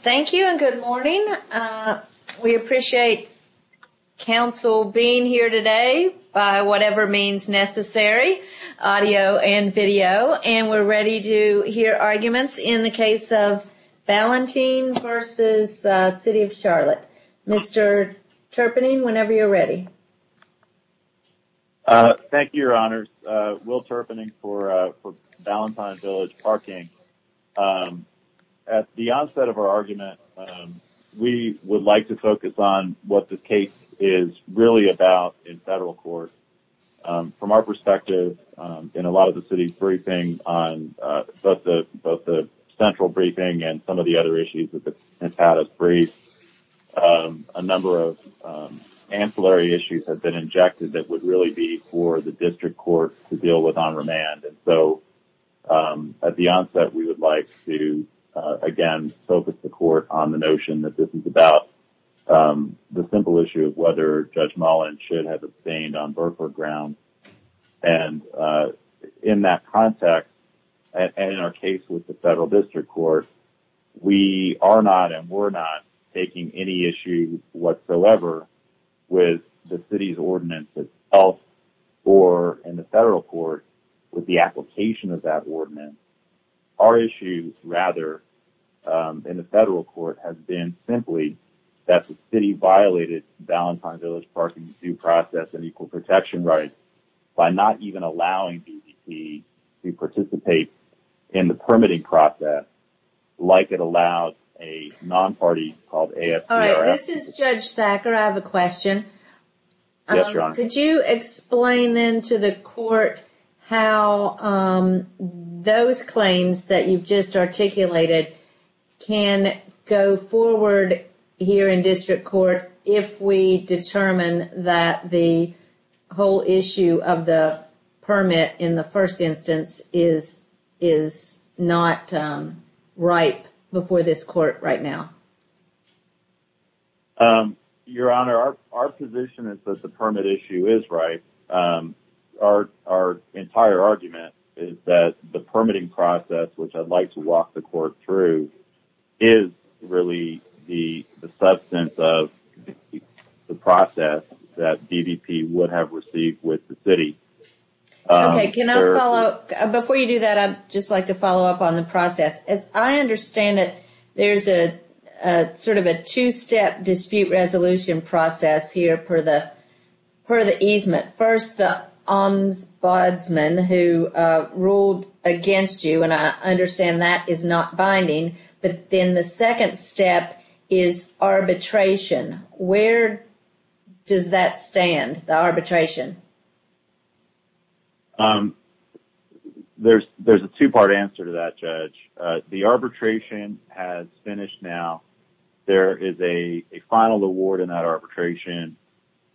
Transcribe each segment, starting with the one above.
Thank you and good morning. We appreciate Council being here today by whatever means necessary, audio and video, and we're ready to hear arguments in the case of Ballantyne v. City of Charlotte. Mr. Terpening, whenever you're ready. Mr. Terpening Thank you, Your Honors. Will Terpening for Ballantyne Village Parking. At the onset of our argument, we would like to focus on what the case is really about in federal court. From our perspective, in a lot of the city's briefings on both the central briefing and some of the other issues that have had us brief, a number of ancillary issues have been injected that would really be for the district court to deal with on remand. And so at the onset, we would like to, again, focus the court on the notion that this is about the simple issue of whether Judge Mullin should have abstained on burqa grounds. And in that context, and in our case with the federal district court, we are not and we're not taking any issue whatsoever with the city's ordinance itself or in the federal court with the application of that ordinance. Our issue, rather, in the federal court has been simply that the city violated Ballantyne Village Parking's due process and by not even allowing BVP to participate in the permitting process like it allowed a non-party called AFP or AFP. All right, this is Judge Thacker. I have a question. Yes, Your Honor. Could you explain then to the court how those claims that you've just articulated can go forward here in district court if we determine that the whole issue of the permit in the first instance is not right before this court right now? Your Honor, our position is that the permit issue is right. Our entire argument is that the permitting process, which I'd like to walk the court through, is really the substance of the process that BVP would have received with the city. Okay, can I follow up? Before you do that, I'd just like to follow up on the process. As I understand it, there's a sort of a two-step dispute resolution process here per the easement. First, the ombudsman who ruled against you, and I understand that is not binding, but then the second step is arbitration. Where does that stand, the arbitration? There's a two-part answer to that, Judge. The arbitration has finished now. There is a final award in that arbitration,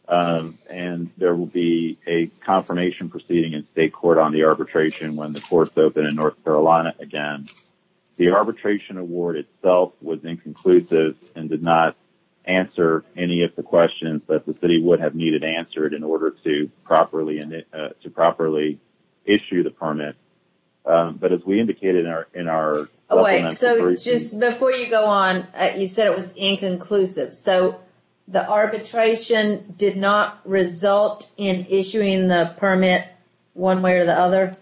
and there will be a confirmation proceeding in state court on the arbitration when the courts open in North Carolina again. The arbitration award itself was inconclusive and did not answer any of the questions that the city would have needed answered in order to properly issue the permit. But as we indicated in our... Just before you go on, you said it was inconclusive. The arbitration did not result in issuing the permit one way or the other?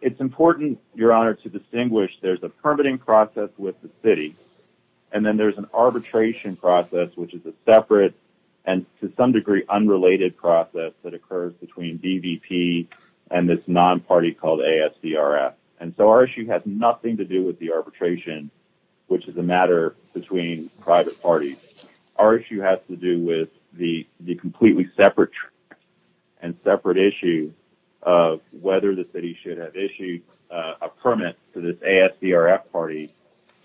It's important, Your Honor, to distinguish there's a permitting process with the city, and then there's an arbitration process, which is a separate and to some degree unrelated process that occurs between BVP and this non-party called ASDRF. And so our issue has nothing to do with the arbitration, which is a matter between private parties. Our issue has to do with the completely separate and separate issue of whether the city should have issued a permit to this ASDRF party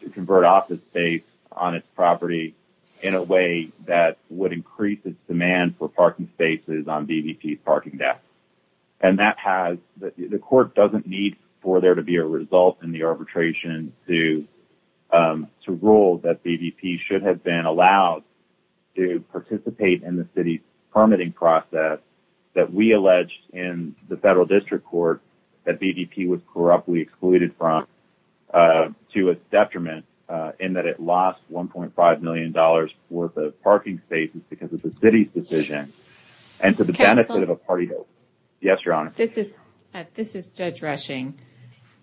to convert office space on its property in a way that would increase its demand for parking spaces on BVP's parking desk. And the court doesn't need for there to be a result in the arbitration to rule that BVP should have been allowed to participate in the city's permitting process that we alleged in the federal district court that BVP was corruptly excluded from to its detriment in that it lost $1.5 million worth of parking spaces because of the city's decision. And to the Yes, Your Honor. This is Judge Rushing.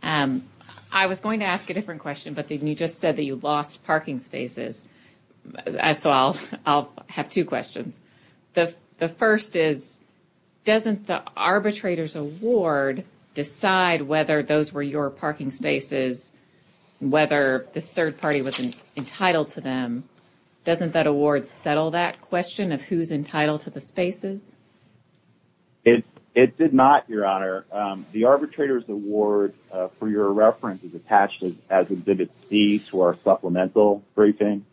I was going to ask a different question, but then you just said that you lost parking spaces. So I'll have two questions. The first is, doesn't the arbitrator's award decide whether those were your parking spaces, whether this third party was entitled to them? Doesn't that award settle that question of who's entitled to the spaces? It did not, Your Honor. The arbitrator's award, for your reference, is attached as Exhibit C to our supplemental briefing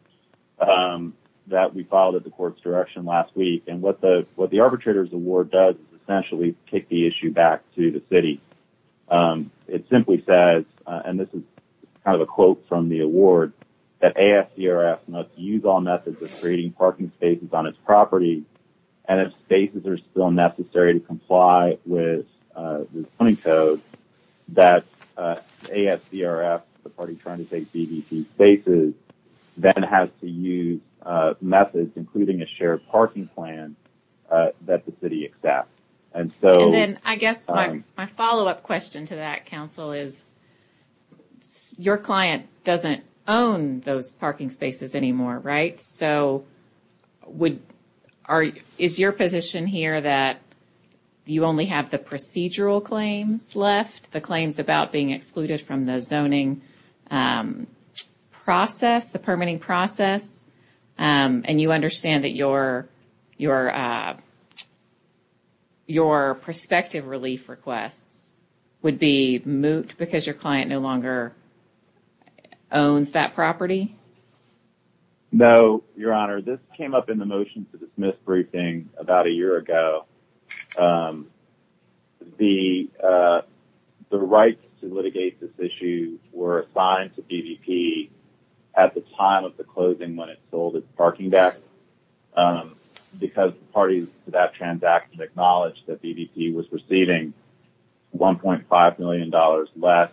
that we filed at the court's direction last week. And what the arbitrator's award does is essentially take the issue back to the city. It simply says, and this is kind of a quote from the award, that ASDRF must use all methods of parking spaces on its property. And if spaces are still necessary to comply with the zoning code, that ASDRF, the party trying to take BVP spaces, then has to use methods, including a shared parking plan, that the city accepts. And so... And then I guess my follow-up question to that, counsel, is your client doesn't own those parking spaces anymore, right? So would... Is your position here that you only have the procedural claims left, the claims about being excluded from the zoning process, the permitting process, and you understand that your prospective relief requests would be moot because your client no longer owns that property? No, Your Honor. This came up in the motion to dismiss briefing about a year ago. The rights to litigate this issue were assigned to BVP at the time of the closing when it sold its parking deck. Because the parties to that transaction acknowledged that BVP was receiving $1.5 million less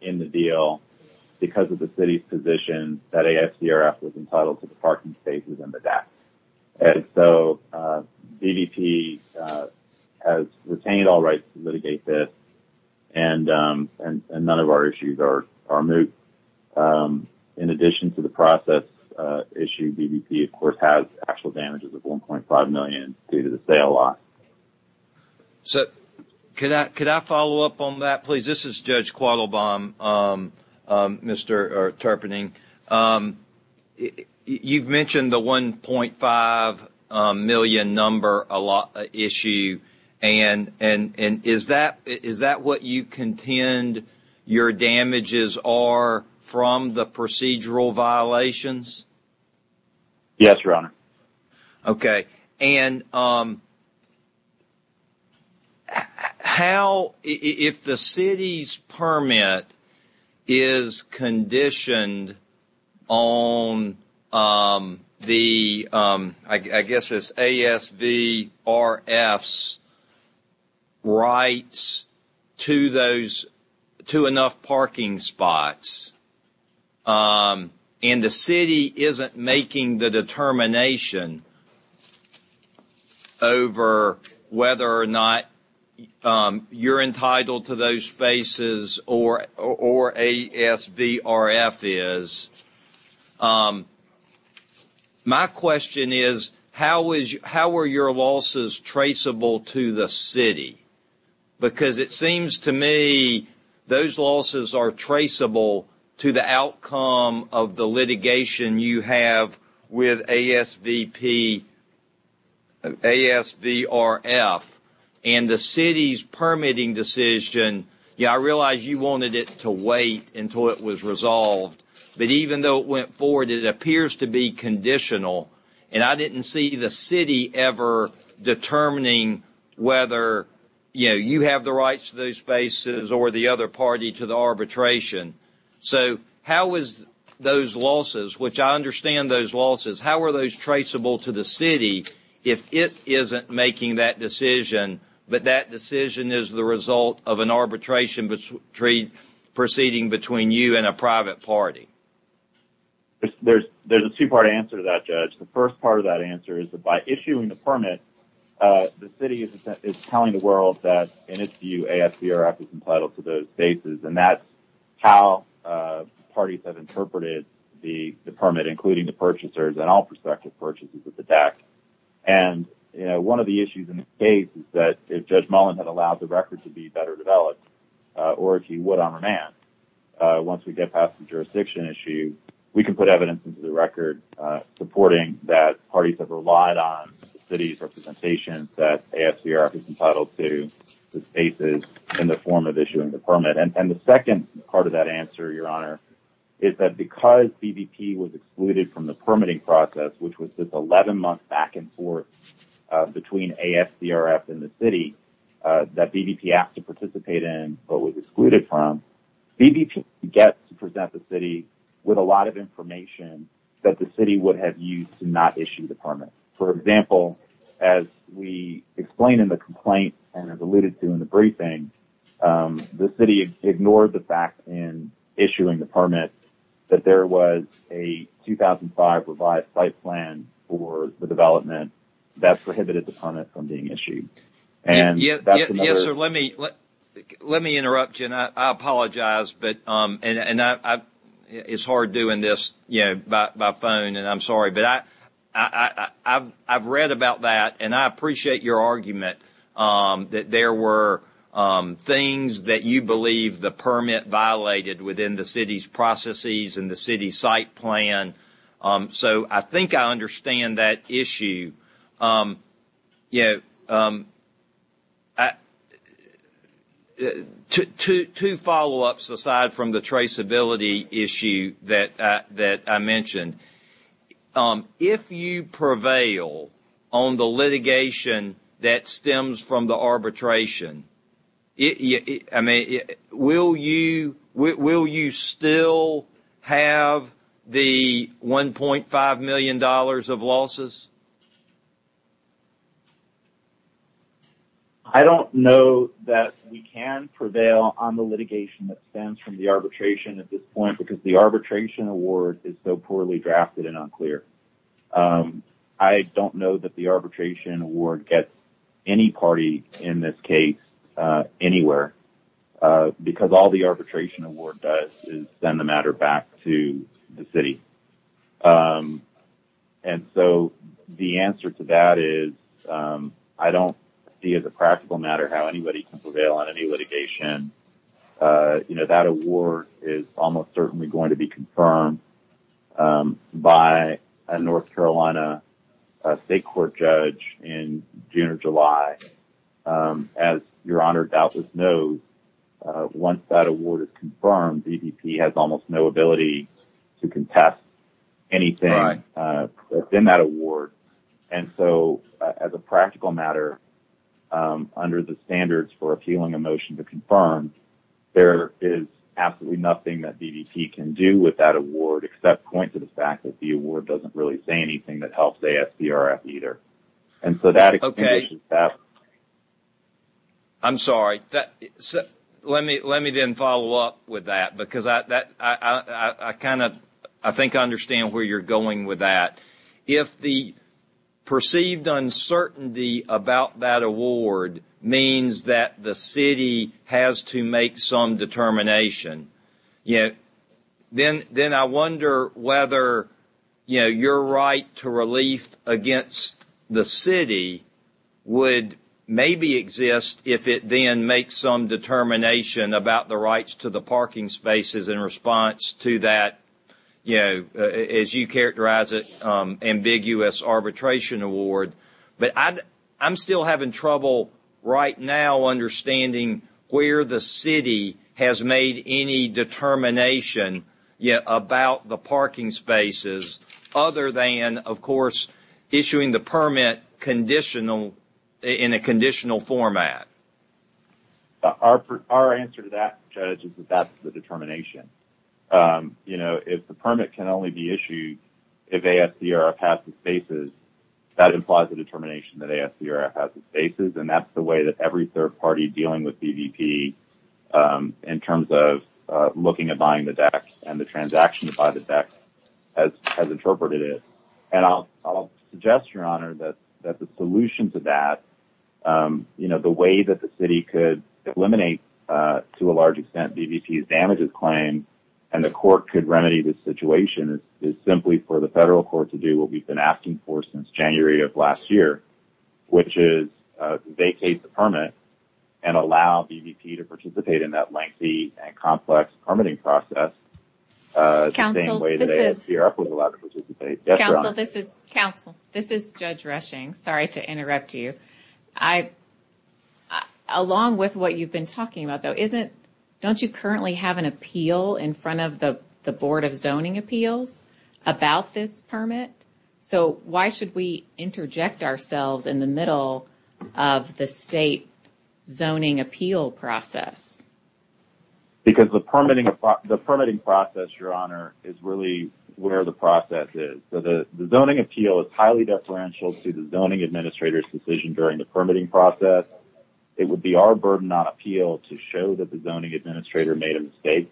in the deal because of the city's position that ASDRF was entitled to the parking spaces and the deck. And so BVP has retained all rights to litigate this, and none of our issues are moot. In addition to the process issue, BVP, of course, has actual damages of $1.5 million due to the sale lot. So could I follow up on that, please? This is Judge Quattlebaum, Mr. Terpening. You've mentioned the $1.5 million number issue, and is that what you contend your damages are from the procedural violations? Yes, Your Honor. Okay. And how, if the city's permit is conditioned on the, I guess it's ASVRF's rights to those, to enough parking spots, and the city isn't making the determination over whether or not you're entitled to those spaces or ASVRF is, my question is, how were your losses traceable to the city? Because it seems to me those losses are traceable to the outcome of the litigation you have with ASVRF, and the city's permitting decision, yeah, I realize you wanted it to wait until it was resolved, but even though it went forward, it appears to be conditional, and I didn't see the city ever determining whether, you know, you have the rights to those spaces or the other party to the arbitration. So how is those losses, which I understand those losses, how are those traceable to the city if it isn't making that decision, but that decision is the result of an arbitration treaty proceeding between you and a private party? There's a two-part answer to that, Judge. The first part of that answer is that by issuing the permit, the city is telling the world that, in its view, ASVRF is entitled to those spaces, and that's how parties have interpreted the permit, including the purchasers and all prospective purchases of the deck. And, you know, one of the issues in this case is that if Judge Mullen had allowed the record to be better developed, or if he would on remand, once we get past the jurisdiction issue, we can put evidence into the record supporting that parties have relied on the city's representation that ASVRF is entitled to the spaces in the form of issuing the permit. And the second part of that answer, Your Honor, is that because BBP was excluded from the permitting process, which was this 11-month back-and-forth between ASVRF and the city that BBP asked to participate in, but was excluded from, BBP gets to present the city with a lot of information that the city would have used to not issue the permit. For example, as we explain in the complaint and as alluded to in the briefing, the city ignored the fact in issuing the permit that there was a 2005 revised site plan for the development that prohibited the permit from being issued. Yes, sir, let me interrupt you, and I apologize. It's hard doing this by phone, and I'm sorry, but I've read about that, and I appreciate your argument that there were things that you believe the permit violated within the city's processes and the city site plan. So I think I understand that issue. You know, two follow-ups aside from the traceability issue that I mentioned. If you prevail on the litigation that stems from the arbitration, I mean, will you still have the $1.5 million of losses? I don't know that we can prevail on the litigation that stems from the arbitration at this point because the arbitration award is so poorly drafted and unclear. I don't know that the arbitration award gets any party in this case anywhere because all the arbitration award does is send the matter back to the city. And so the answer to that is I don't see as a practical matter how anybody can prevail on any litigation. You know, that award is almost certainly going to be confirmed by a North Carolina state court judge in June or July. As Your Honor doubtless knows, once that award is confirmed, DPP has almost no ability to contest anything within that award. And so as a practical matter, under the standards for appealing a motion to confirm, there is absolutely nothing that DPP can do with that award except point to the fact that the award doesn't really say anything that helps ASPRF either. And so that... Okay. I'm sorry. Let me then follow up with that because I think I understand where you're going with that. If the perceived uncertainty about that award means that the city has to make some determination, you know, then I wonder whether, you know, your right to relief against the city would maybe exist if it then makes some determination about the rights to the parking spaces in response to that, you know, as you characterize it, ambiguous arbitration award. But I'm still having trouble right now understanding where the city has made any determination yet about the parking spaces other than, of course, issuing the permit conditional in a conditional format. Our answer to that, Judge, is that that's the determination. You know, if the permit can only be issued if ASPRF has the spaces, that implies the determination that ASPRF has the spaces. And that's the way that every third party dealing with DPP in terms of looking at buying the deck and the transaction to buy the deck has interpreted it. And I'll suggest, Your Honor, that the solution to that, you know, the way that the city could eliminate to a large extent DPP's damages claim and the court could remedy this situation is simply for the federal court to do what we've been asking for since January of last year, which is vacate the permit and allow DPP to participate in that complex permitting process the same way that ASPRF was allowed to participate. Counsel, this is Judge Reshing. Sorry to interrupt you. Along with what you've been talking about, though, don't you currently have an appeal in front of the Board of Zoning Appeals about this permit? So why should we interject ourselves in the middle of the state zoning appeal process? Because the permitting process, Your Honor, is really where the process is. So the zoning appeal is highly deferential to the zoning administrator's decision during the permitting process. It would be our burden on appeal to show that the zoning administrator made a mistake.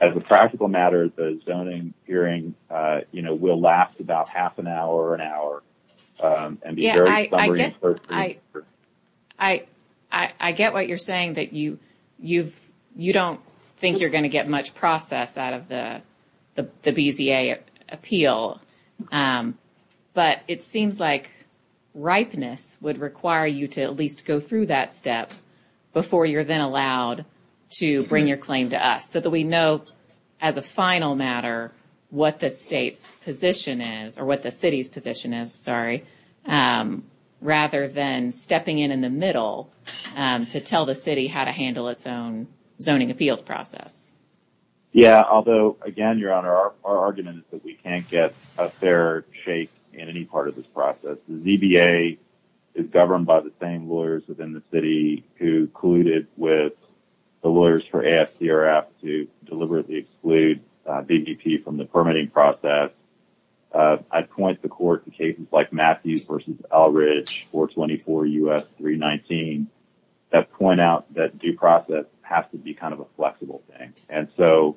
As a practical matter, the zoning hearing, you know, will last about half an hour or an hour. I get what you're saying that you don't think you're going to get much process out of the BZA appeal, but it seems like ripeness would require you to at least go through that step before you're then allowed to bring your claim to us so that we know as a final matter what the state's position is or what the city's position is, sorry, rather than stepping in in the middle to tell the city how to handle its own zoning appeals process. Yeah, although again, Your Honor, our argument is that we can't get a fair shake in any part of this process. The ZBA is governed by the same lawyers within the city who colluded with the lawyers for AFTRF to deliberately exclude BVP from the permitting process. I'd point the court to cases like Matthews v. Elridge 424 U.S. 319 that point out that due process has to be kind of a flexible thing. And so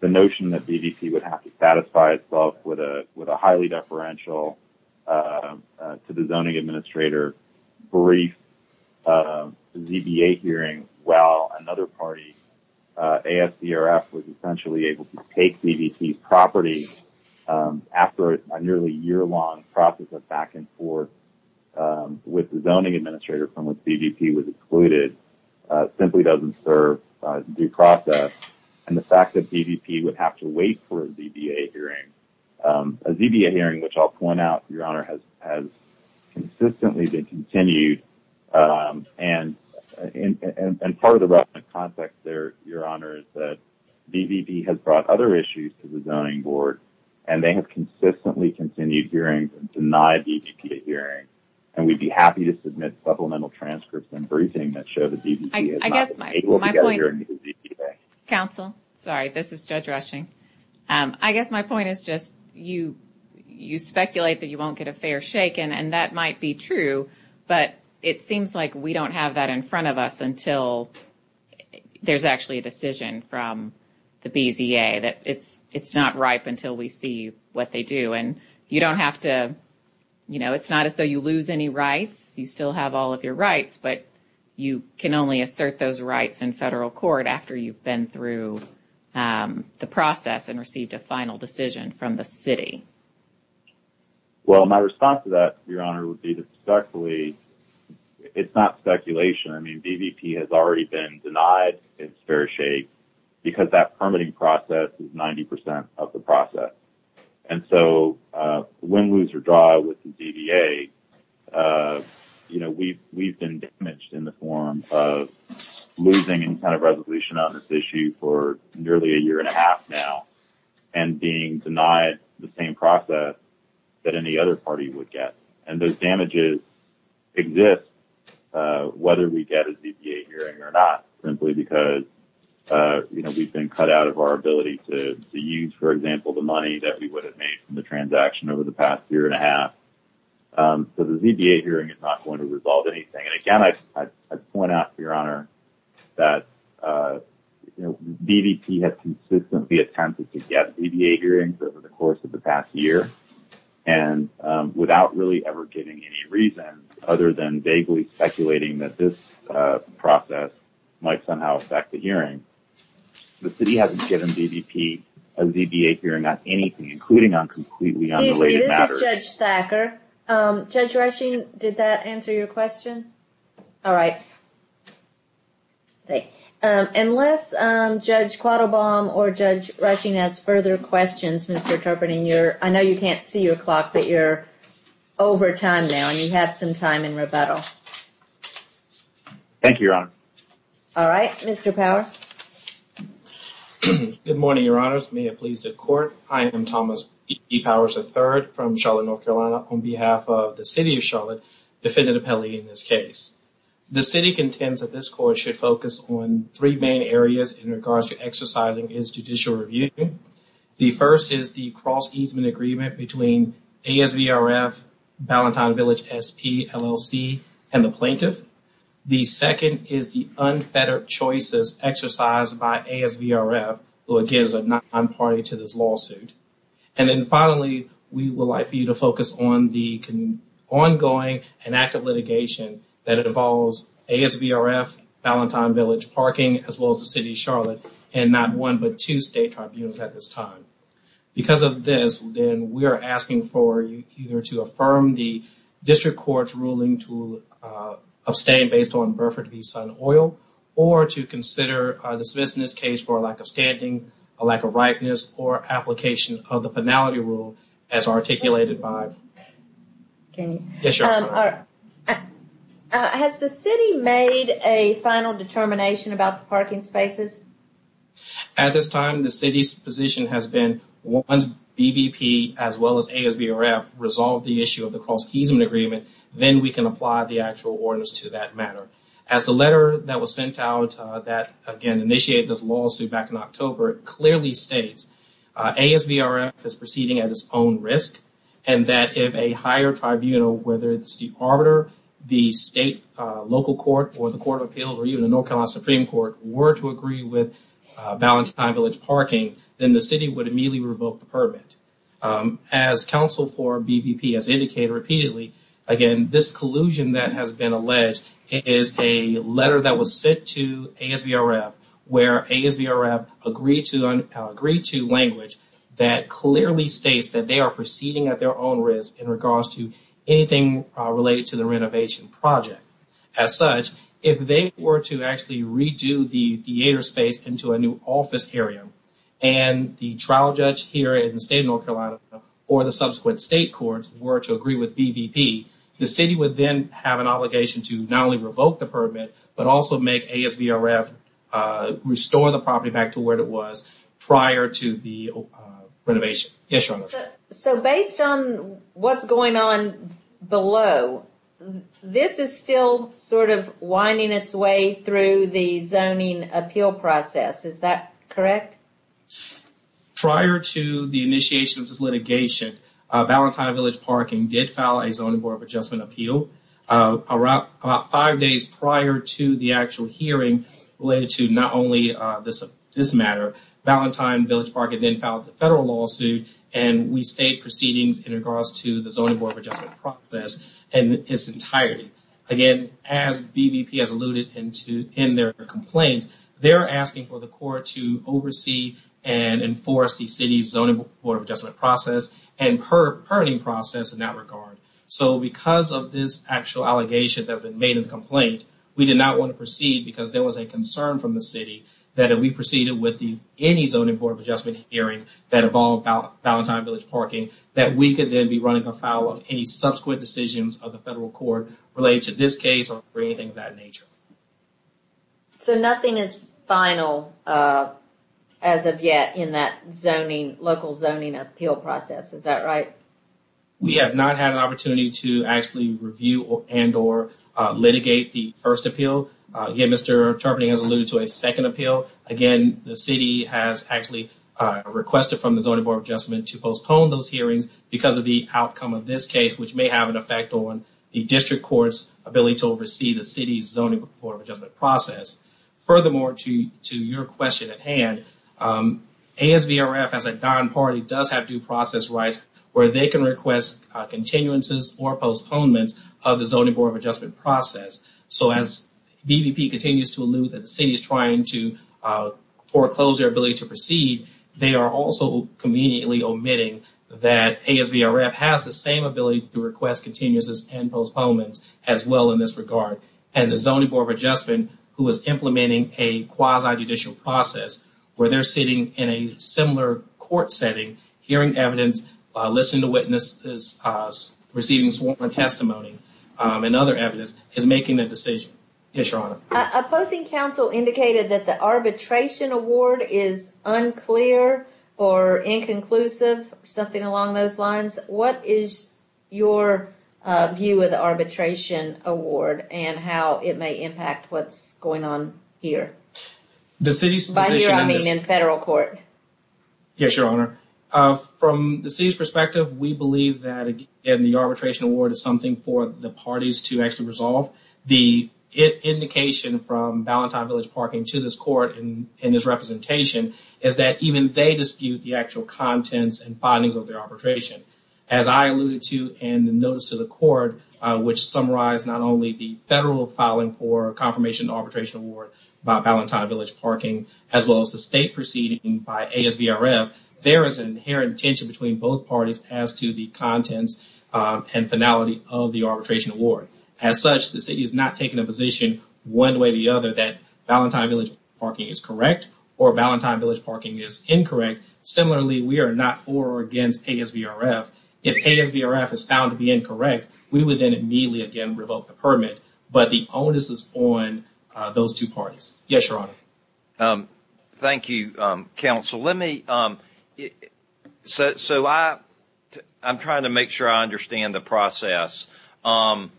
the notion that BVP would have to satisfy itself with a highly deferential to the zoning administrator brief ZBA hearing while another party, AFTRF, was essentially able to take BVP's property after a nearly year-long process of back and forth with the zoning administrator from which BVP was excluded simply doesn't serve due process. And the fact that BVP would have to wait for a ZBA hearing, a ZBA hearing, which I'll point out, Your Honor, has consistently been continued. And part of the roughened context there, Your Honor, is that BVP has brought other issues to the zoning board and they have consistently continued hearings and denied BVP a hearing. And we'd be happy to submit supplemental transcripts and briefings that show that BVP has not been able to get a hearing through ZBA. Counsel, sorry, this is Judge Rushing. I guess my point is just you speculate that you won't get a fair shake and that might be true, but it seems like we don't have that in front of us until there's actually a decision from the BZA that it's not ripe until we see what they do. And you don't have to, you know, it's not as though you lose any rights. You still have all of your assert those rights in federal court after you've been through the process and received a final decision from the city. Well, my response to that, Your Honor, would be to speculate. It's not speculation. I mean, BVP has already been denied its fair shake because that permitting process is 90 percent of the process. And so win, lose, or draw with the ZBA, you know, we've been damaged in the form of losing any kind of resolution on this issue for nearly a year and a half now and being denied the same process that any other party would get. And those damages exist whether we get a ZBA hearing or not simply because, you know, we've been cut out of our ability to use, for example, the money that we would have made from the transaction over the I point out, Your Honor, that, you know, BVP has consistently attempted to get ZBA hearings over the course of the past year and without really ever giving any reason other than vaguely speculating that this process might somehow affect the hearing. The city hasn't given BVP a ZBA hearing on anything, including on completely unrelated matters. Excuse me, this is Judge Thacker. Judge Rushing, did that answer your question? All right. Unless Judge Quattlebaum or Judge Rushing has further questions, Mr. Turpeney, I know you can't see your clock, but you're over time now and you have some time in rebuttal. Thank you, Your Honor. All right. Mr. Power. Good morning, Your Honors. May it please the Court. I am Thomas B. Powers III from Charlotte, North Carolina, on behalf of the City of Charlotte, Defendant Appellee in this case. The City contends that this Court should focus on three main areas in regards to exercising its judicial review. The first is the cross-easement agreement between ASVRF, Ballantyne Village SP, LLC, and the plaintiff. The second is the unfettered choices exercised by ASVRF, who, again, is a non-party to this lawsuit. And then finally, we would like for you to focus on the ongoing and active litigation that involves ASVRF, Ballantyne Village Parking, as well as the City of Charlotte, and not one, but two state tribunals at this time. Because of this, then we are asking for you either to affirm the District Court's ruling to abstain based on Burford v. Sun Oil, or to consider the smithsonist case for a lack of standing, a lack of ripeness, or application of the Penality Rule as articulated by... Can you... Yes, Your Honor. Has the City made a final determination about the parking spaces? At this time, the City's position has been once BVP, as well as ASVRF, resolve the issue of the cross-easement agreement, then we can apply the ruling. The letter that was sent out that, again, initiated this lawsuit back in October, clearly states ASVRF is proceeding at its own risk, and that if a higher tribunal, whether it's the Arbiter, the state local court, or the Court of Appeals, or even the North Carolina Supreme Court, were to agree with Ballantyne Village Parking, then the City would immediately revoke the permit. As counsel for BVP has indicated repeatedly, again, this collusion that has been alleged is a letter that was sent to ASVRF, where ASVRF agreed to language that clearly states that they are proceeding at their own risk in regards to anything related to the renovation project. As such, if they were to actually redo the theater space into a new office area, and the trial judge here in the state of courts were to agree with BVP, the City would then have an obligation to not only revoke the permit, but also make ASVRF restore the property back to where it was prior to the renovation. So, based on what's going on below, this is still sort of winding its way through the zoning appeal process. Is that correct? Prior to the initiation of this litigation, Ballantyne Village Parking did file a Zoning Board of Adjustment appeal. About five days prior to the actual hearing related to not only this matter, Ballantyne Village Parking then filed the federal lawsuit, and we stayed proceedings in regards to the Zoning Board of Adjustment process in its entirety. Again, as BVP has alluded to in their complaint, they're asking for the court to oversee and enforce the City's Zoning Board of Adjustment process and permitting process in that regard. So, because of this actual allegation that's been made in the complaint, we did not want to proceed because there was a concern from the City that if we proceeded with any Zoning Board of Adjustment hearing that involved Ballantyne Village Parking, that we could then be on the fowl of any subsequent decisions of the federal court related to this case or anything of that nature. So, nothing is final as of yet in that zoning, local zoning appeal process. Is that right? We have not had an opportunity to actually review and or litigate the first appeal. Again, Mr. Turpeney has alluded to a second appeal. Again, the City has actually requested from the case which may have an effect on the District Court's ability to oversee the City's Zoning Board of Adjustment process. Furthermore, to your question at hand, ASVRF as a non-party does have due process rights where they can request continuances or postponements of the Zoning Board of Adjustment process. So, as BVP continues to allude that the City is trying to foreclose their ability to proceed, they are also conveniently omitting that ASVRF has the same ability to request continuances and postponements as well in this regard. And the Zoning Board of Adjustment, who is implementing a quasi-judicial process where they're sitting in a similar court setting, hearing evidence, listening to witnesses, receiving sworn testimony and other evidence, is making that decision. Yes, Your Honor. Opposing counsel indicated that the arbitration award is unclear or inconclusive, something along those lines. What is your view of the arbitration award and how it may impact what's going on here? By here, I mean in federal court. Yes, Your Honor. From the City's perspective, we believe that, again, the arbitration award is something for the parties to actually resolve. The indication from Ballantyne Village Parking to this court in this representation is that even they dispute the actual contents and findings of their arbitration. As I alluded to in the notice to the court, which summarized not only the federal filing for a confirmation arbitration award by Ballantyne Village Parking, as well as the state proceeding by ASVRF, there is an inherent tension between both parties as to the contents and finality of the arbitration award. As such, the City is not taking a position one way or the other that Ballantyne Village Parking is correct or Ballantyne Village Parking is incorrect. Similarly, we are not for or against ASVRF. If ASVRF is found to be incorrect, we would then immediately, again, revoke the permit. But the onus is on those two parties. Yes, Your Honor. Thank you, counsel. So, I'm trying to make sure I understand the process. And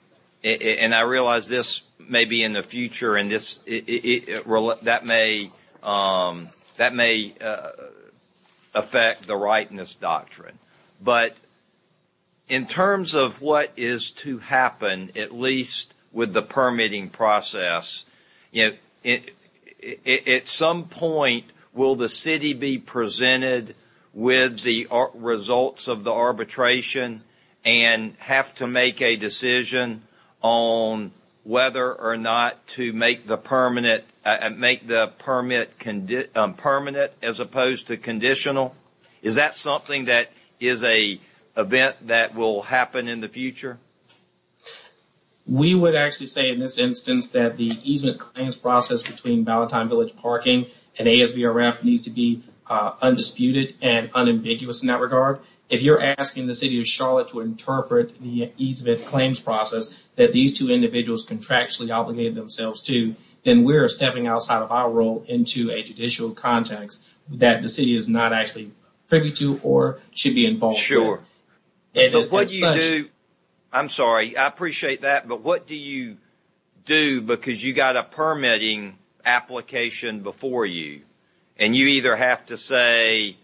I realize this may be in the future and that may affect the rightness doctrine. But in terms of what is to happen, at least with the permitting process, at some point will the City be presented with the results of the permitting process and make the permit permanent as opposed to conditional? Is that something that is an event that will happen in the future? We would actually say in this instance that the easement claims process between Ballantyne Village Parking and ASVRF needs to be undisputed and unambiguous in that regard. If you're asking the City of Charlotte to interpret the easement claims process that these two individuals contractually obligated themselves to, then we're stepping outside of our role into a judicial context that the City is not actually privy to or should be involved in. Sure. But what you do, I'm sorry, I appreciate that, but what do you do because you got a permitting application before you and you either have to say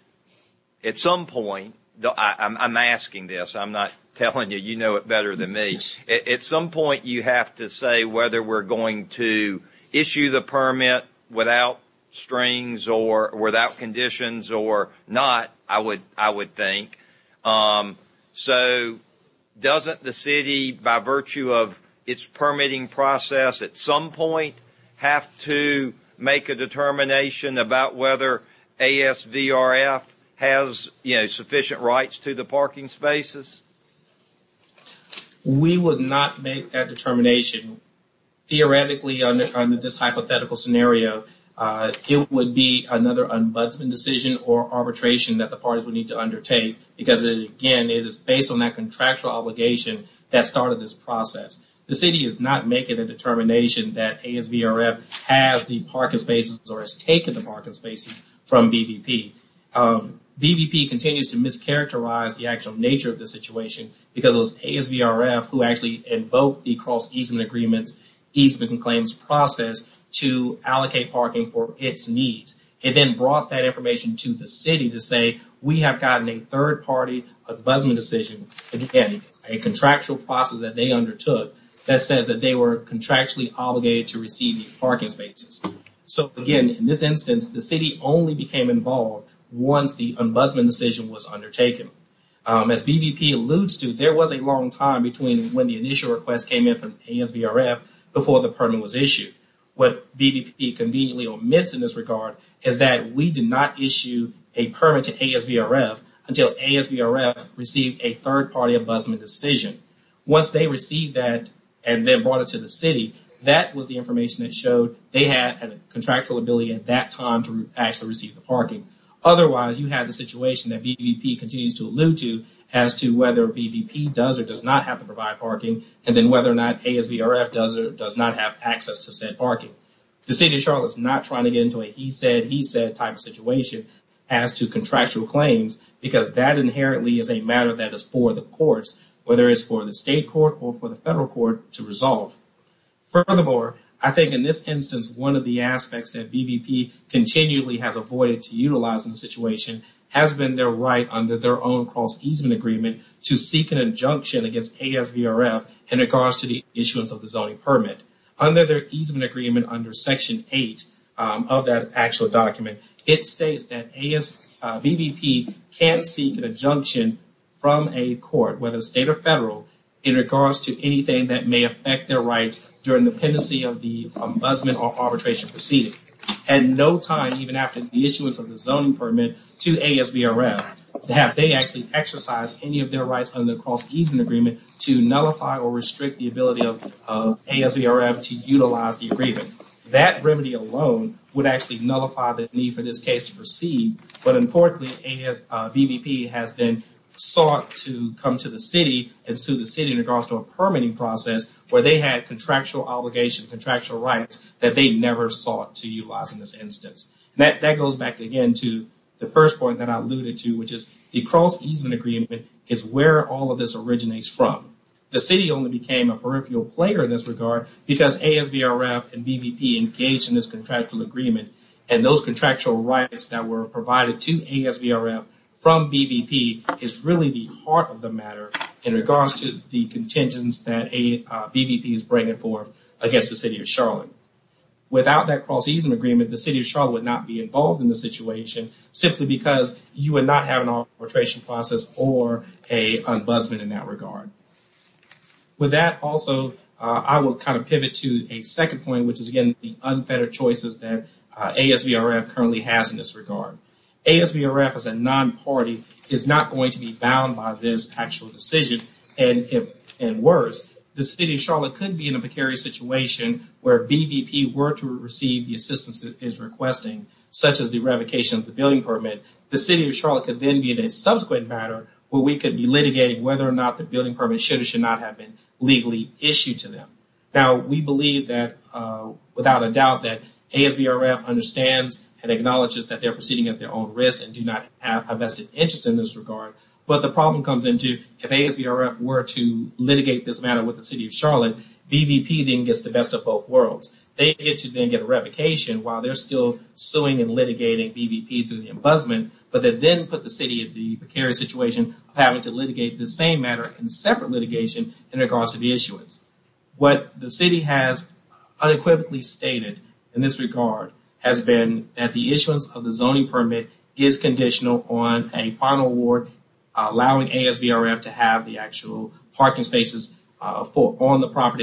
at some point, I'm asking this, I'm not telling you you know it better than me, at some point you have to say whether we're going to issue the permit without strings or without conditions or not, I would think. So doesn't the City, by virtue of its permitting process, at some point have to make a determination about whether ASVRF has you know sufficient rights to the parking spaces? We would not make that determination. Theoretically, under this hypothetical scenario, it would be another ombudsman decision or arbitration that the parties would need to undertake because again it is based on that contractual obligation that started this process. The City is not making a determination that ASVRF has the parking spaces or has taken the parking spaces from BVP. BVP continues to mischaracterize the actual nature of the situation because it was ASVRF who actually invoked the cross-easement agreements, easement claims process to allocate parking for its needs. It then brought that a contractual process that they undertook that said that they were contractually obligated to receive these parking spaces. So again, in this instance, the City only became involved once the ombudsman decision was undertaken. As BVP alludes to, there was a long time between when the initial request came in from ASVRF before the permit was issued. What BVP conveniently omits in this regard is that we did not issue a permit to ASVRF until ASVRF received a third party ombudsman decision. Once they received that and then brought it to the City, that was the information that showed they had a contractual ability at that time to actually receive the parking. Otherwise, you have the situation that BVP continues to allude to as to whether BVP does or does not have to provide parking and then whether or not ASVRF does or does not have access to said parking. The City of Charlotte is not trying to get into a he said, he said type of situation as to contractual claims, because that inherently is a matter that is for the courts, whether it's for the state court or for the federal court to resolve. Furthermore, I think in this instance, one of the aspects that BVP continually has avoided to utilize in the situation has been their right under their own cross-easement agreement to seek an injunction against ASVRF in regards to the issuance of the zoning permit. Under their easement agreement under Section 8 of that actual document, it states that BVP can't seek an injunction from a court, whether a state or federal, in regards to anything that may affect their rights during the pendency of the ombudsman or arbitration proceeding. At no time, even after the issuance of the zoning permit to ASVRF, have they actually exercised any of their rights under the cross-easement agreement to nullify or restrict the ability of ASVRF to utilize the agreement. That remedy alone would actually nullify the need for this case to proceed. But importantly, BVP has been sought to come to the city and sue the city in regards to a permitting process where they had contractual obligation, contractual rights that they never sought to utilize in this instance. That goes back again to the first point that I alluded to, which is the cross-easement agreement is where all of this originates from. The city only became a peripheral player in this regard because ASVRF and BVP engaged in this contractual agreement and those contractual rights that were provided to ASVRF from BVP is really the heart of the matter in regards to the contingents that BVP is bringing forth against the City of Charlotte. Without that cross-easement agreement, the City of Charlotte would not be involved in the situation simply because you would not have an arbitration process or an ombudsman in that regard. With that also, I will kind of pivot to a second point, which is again the unfettered choices that ASVRF currently has in this regard. ASVRF as a non-party is not going to be bound by this actual decision. And worse, the City of Charlotte could be in a precarious situation where BVP were to receive the assistance it is requesting, such as the revocation of the building permit. The City of Charlotte could then be in a subsequent matter where we could be litigating whether or not the building permit should or should not have been legally issued to them. Now, we believe that without a doubt that ASVRF understands and acknowledges that they're proceeding at their own risk and do not have a vested interest in this regard. But the problem comes into if ASVRF were to litigate this matter with the City of Charlotte, BVP then gets the best of both worlds. They get to then get a revocation while they're still suing and litigating BVP through the embusment, but they then put the City in the precarious situation of having to litigate the same matter in separate litigation in regards to the issuance. What the City has unequivocally stated in this regard has been that the issuance of the zoning permit is conditional on a final award allowing ASVRF to have the actual parking spaces on the property.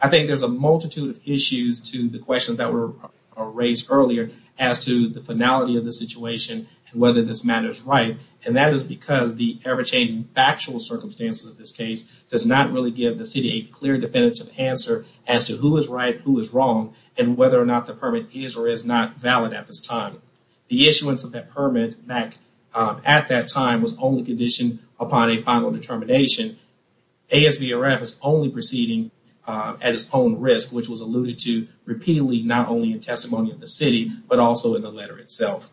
I think there's a multitude of issues to the questions that were raised earlier as to the finality of the situation and whether this matter is right, and that is because the ever-changing factual circumstances of this case does not really give the City a clear definitive answer as to who is right, who is wrong, and whether or not the permit is or is not valid at this time. The issuance of that permit back at that time was only conditioned upon a final determination. ASVRF is only proceeding at its own risk, which was alluded to repeatedly not only in testimony of the City, but also in the letter itself.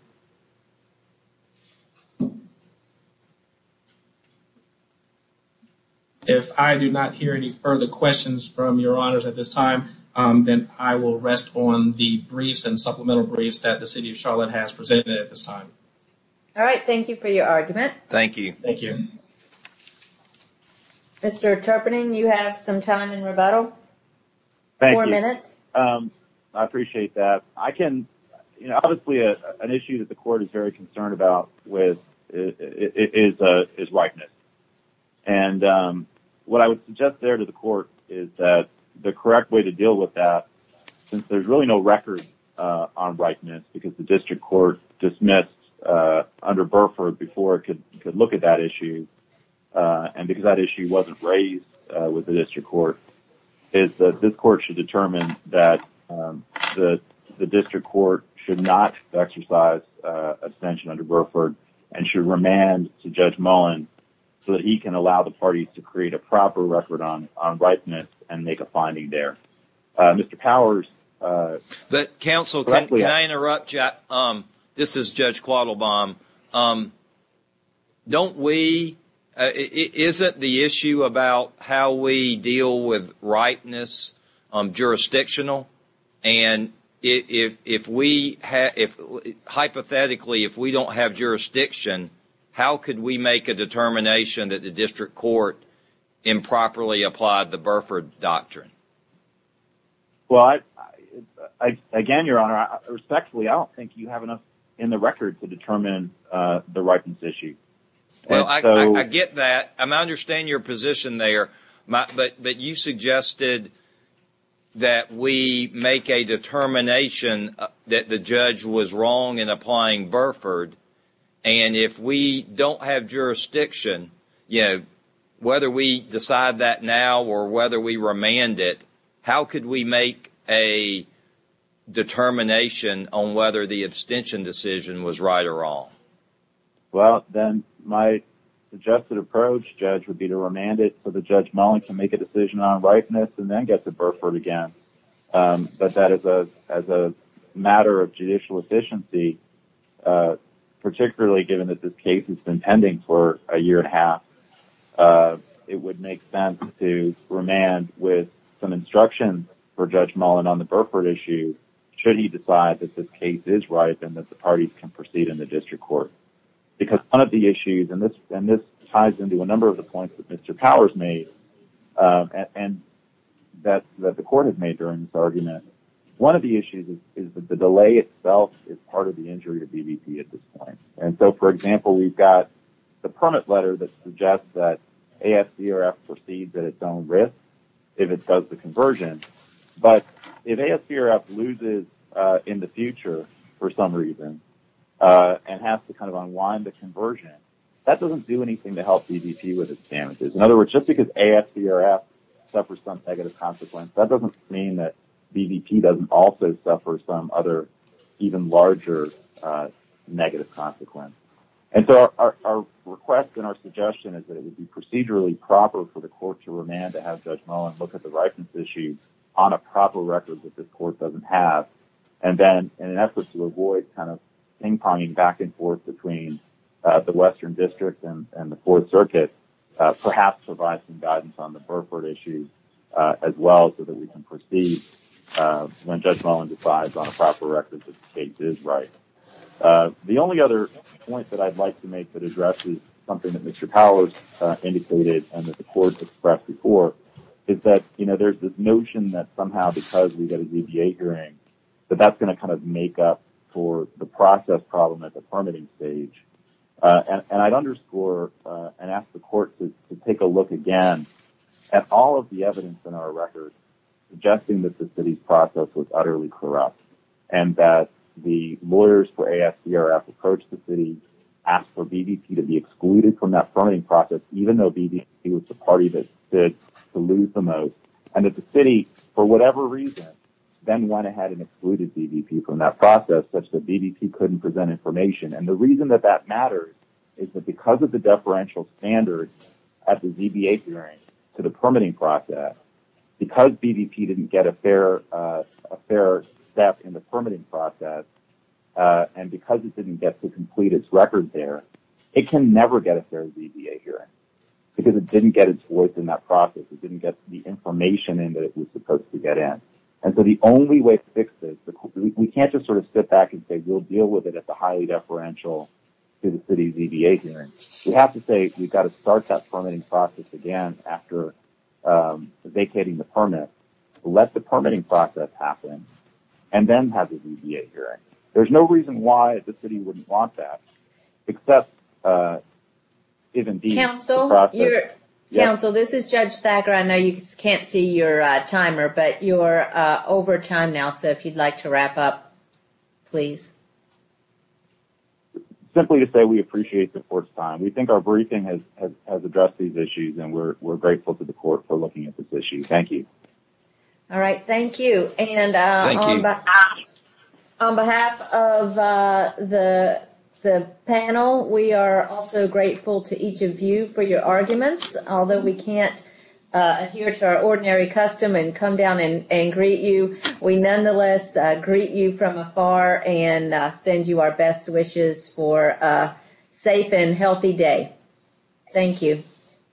If I do not hear any further questions from your honors at this time, then I will rest on the briefs and supplemental briefs that the City of Charlotte has presented at this time. All right, thank you for your argument. Thank you. Thank you. Mr. Terpening, you have some time in rebuttal. Thank you. Four minutes. I appreciate that. I can, you know, obviously an issue that the is that the correct way to deal with that, since there's really no record on rightness, because the district court dismissed under Burford before it could look at that issue, and because that issue wasn't raised with the district court, is that this court should determine that the district court should not exercise abstention under Burford and should to Judge Mullen so that he can allow the parties to create a proper record on rightness and make a finding there. Mr. Powers. Counsel, can I interrupt you? This is Judge Quattlebaum. Don't we, isn't the issue about how we deal with rightness jurisdictional? And if we, hypothetically, if we don't have jurisdiction, how could we make a determination that the district court improperly applied the Burford doctrine? Well, again, Your Honor, respectfully, I don't think you have enough in the record to determine the rightness issue. Well, I get that. I understand your position there, but you suggested that we make a determination that the judge was wrong in applying Burford, and if we don't have jurisdiction, you know, whether we decide that now or whether we remand it, how could we make a determination on whether the abstention decision was right or wrong? Well, then my suggested approach, Judge, would be to remand it for the Judge Mullen to make a decision on rightness and then get to Burford again. But that is a matter of judicial efficiency, particularly given that this case has been pending for a year and a half. It would make sense to remand with some instructions for Judge Mullen on the Burford issue should he decide that this can proceed in the district court. Because one of the issues, and this ties into a number of the points that Mr. Powers made and that the court has made during this argument, one of the issues is that the delay itself is part of the injury of DVP at this point. And so, for example, we've got the permit letter that suggests that ASDRF proceeds at its own risk if it does the conversion. But if ASDRF loses in the future for some reason and has to kind of unwind the conversion, that doesn't do anything to help DVP with its damages. In other words, just because ASDRF suffers some negative consequence, that doesn't mean that DVP doesn't also suffer some other even larger negative consequence. And so our request and our suggestion is that it would be on a proper record that this court doesn't have. And then in an effort to avoid kind of ping-ponging back and forth between the Western District and the Fourth Circuit, perhaps provide some guidance on the Burford issue as well so that we can proceed when Judge Mullen decides on a proper record that the case is right. The only other point that I'd like to make that addresses something that Mr. Powers indicated and that the court's expressed before is that, you know, there's this notion that somehow because we got a DVA hearing, that that's going to kind of make up for the process problem at the permitting stage. And I'd underscore and ask the court to take a look again at all of the evidence in our record suggesting that the city's process was utterly corrupt and that the lawyers for ASDRF approached the city, asked for DVP to be excluded from that permitting process, even though DVP was the party that stood to lose the most. And that the city, for whatever reason, then went ahead and excluded DVP from that process such that DVP couldn't present information. And the reason that that matters is that because of the deferential standards at the DVA hearing to the permitting process, because DVP didn't get a fair step in the permitting process, and because it didn't get to complete its record there, it can never get a fair DVA hearing because it didn't get its voice in that process. It didn't get the information in that it was supposed to get in. And so the only way to fix this, we can't just sort of sit back and say we'll deal with it at the highly deferential to the city's DVA hearing. We have to say we've got to start that permitting process again after vacating the permit, let the permitting process happen, and then have the DVA hearing. There's no reason why the city wouldn't want that except if indeed the process... Counsel, this is Judge Thacker. I know you can't see your timer, but you're over time now. So if you'd like to wrap up, please. Simply to say we appreciate the Court's time. We think our briefing has addressed these issues, and we're grateful to the Court for looking at this issue. Thank you. All right. Thank you. And on behalf of the panel, we are also grateful to each of you for your arguments. Although we can't adhere to our ordinary custom and come down and greet you, we nonetheless greet you from afar and send you our best wishes for a safe and healthy day. Thank you.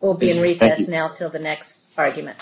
We'll be in recess now until the next argument.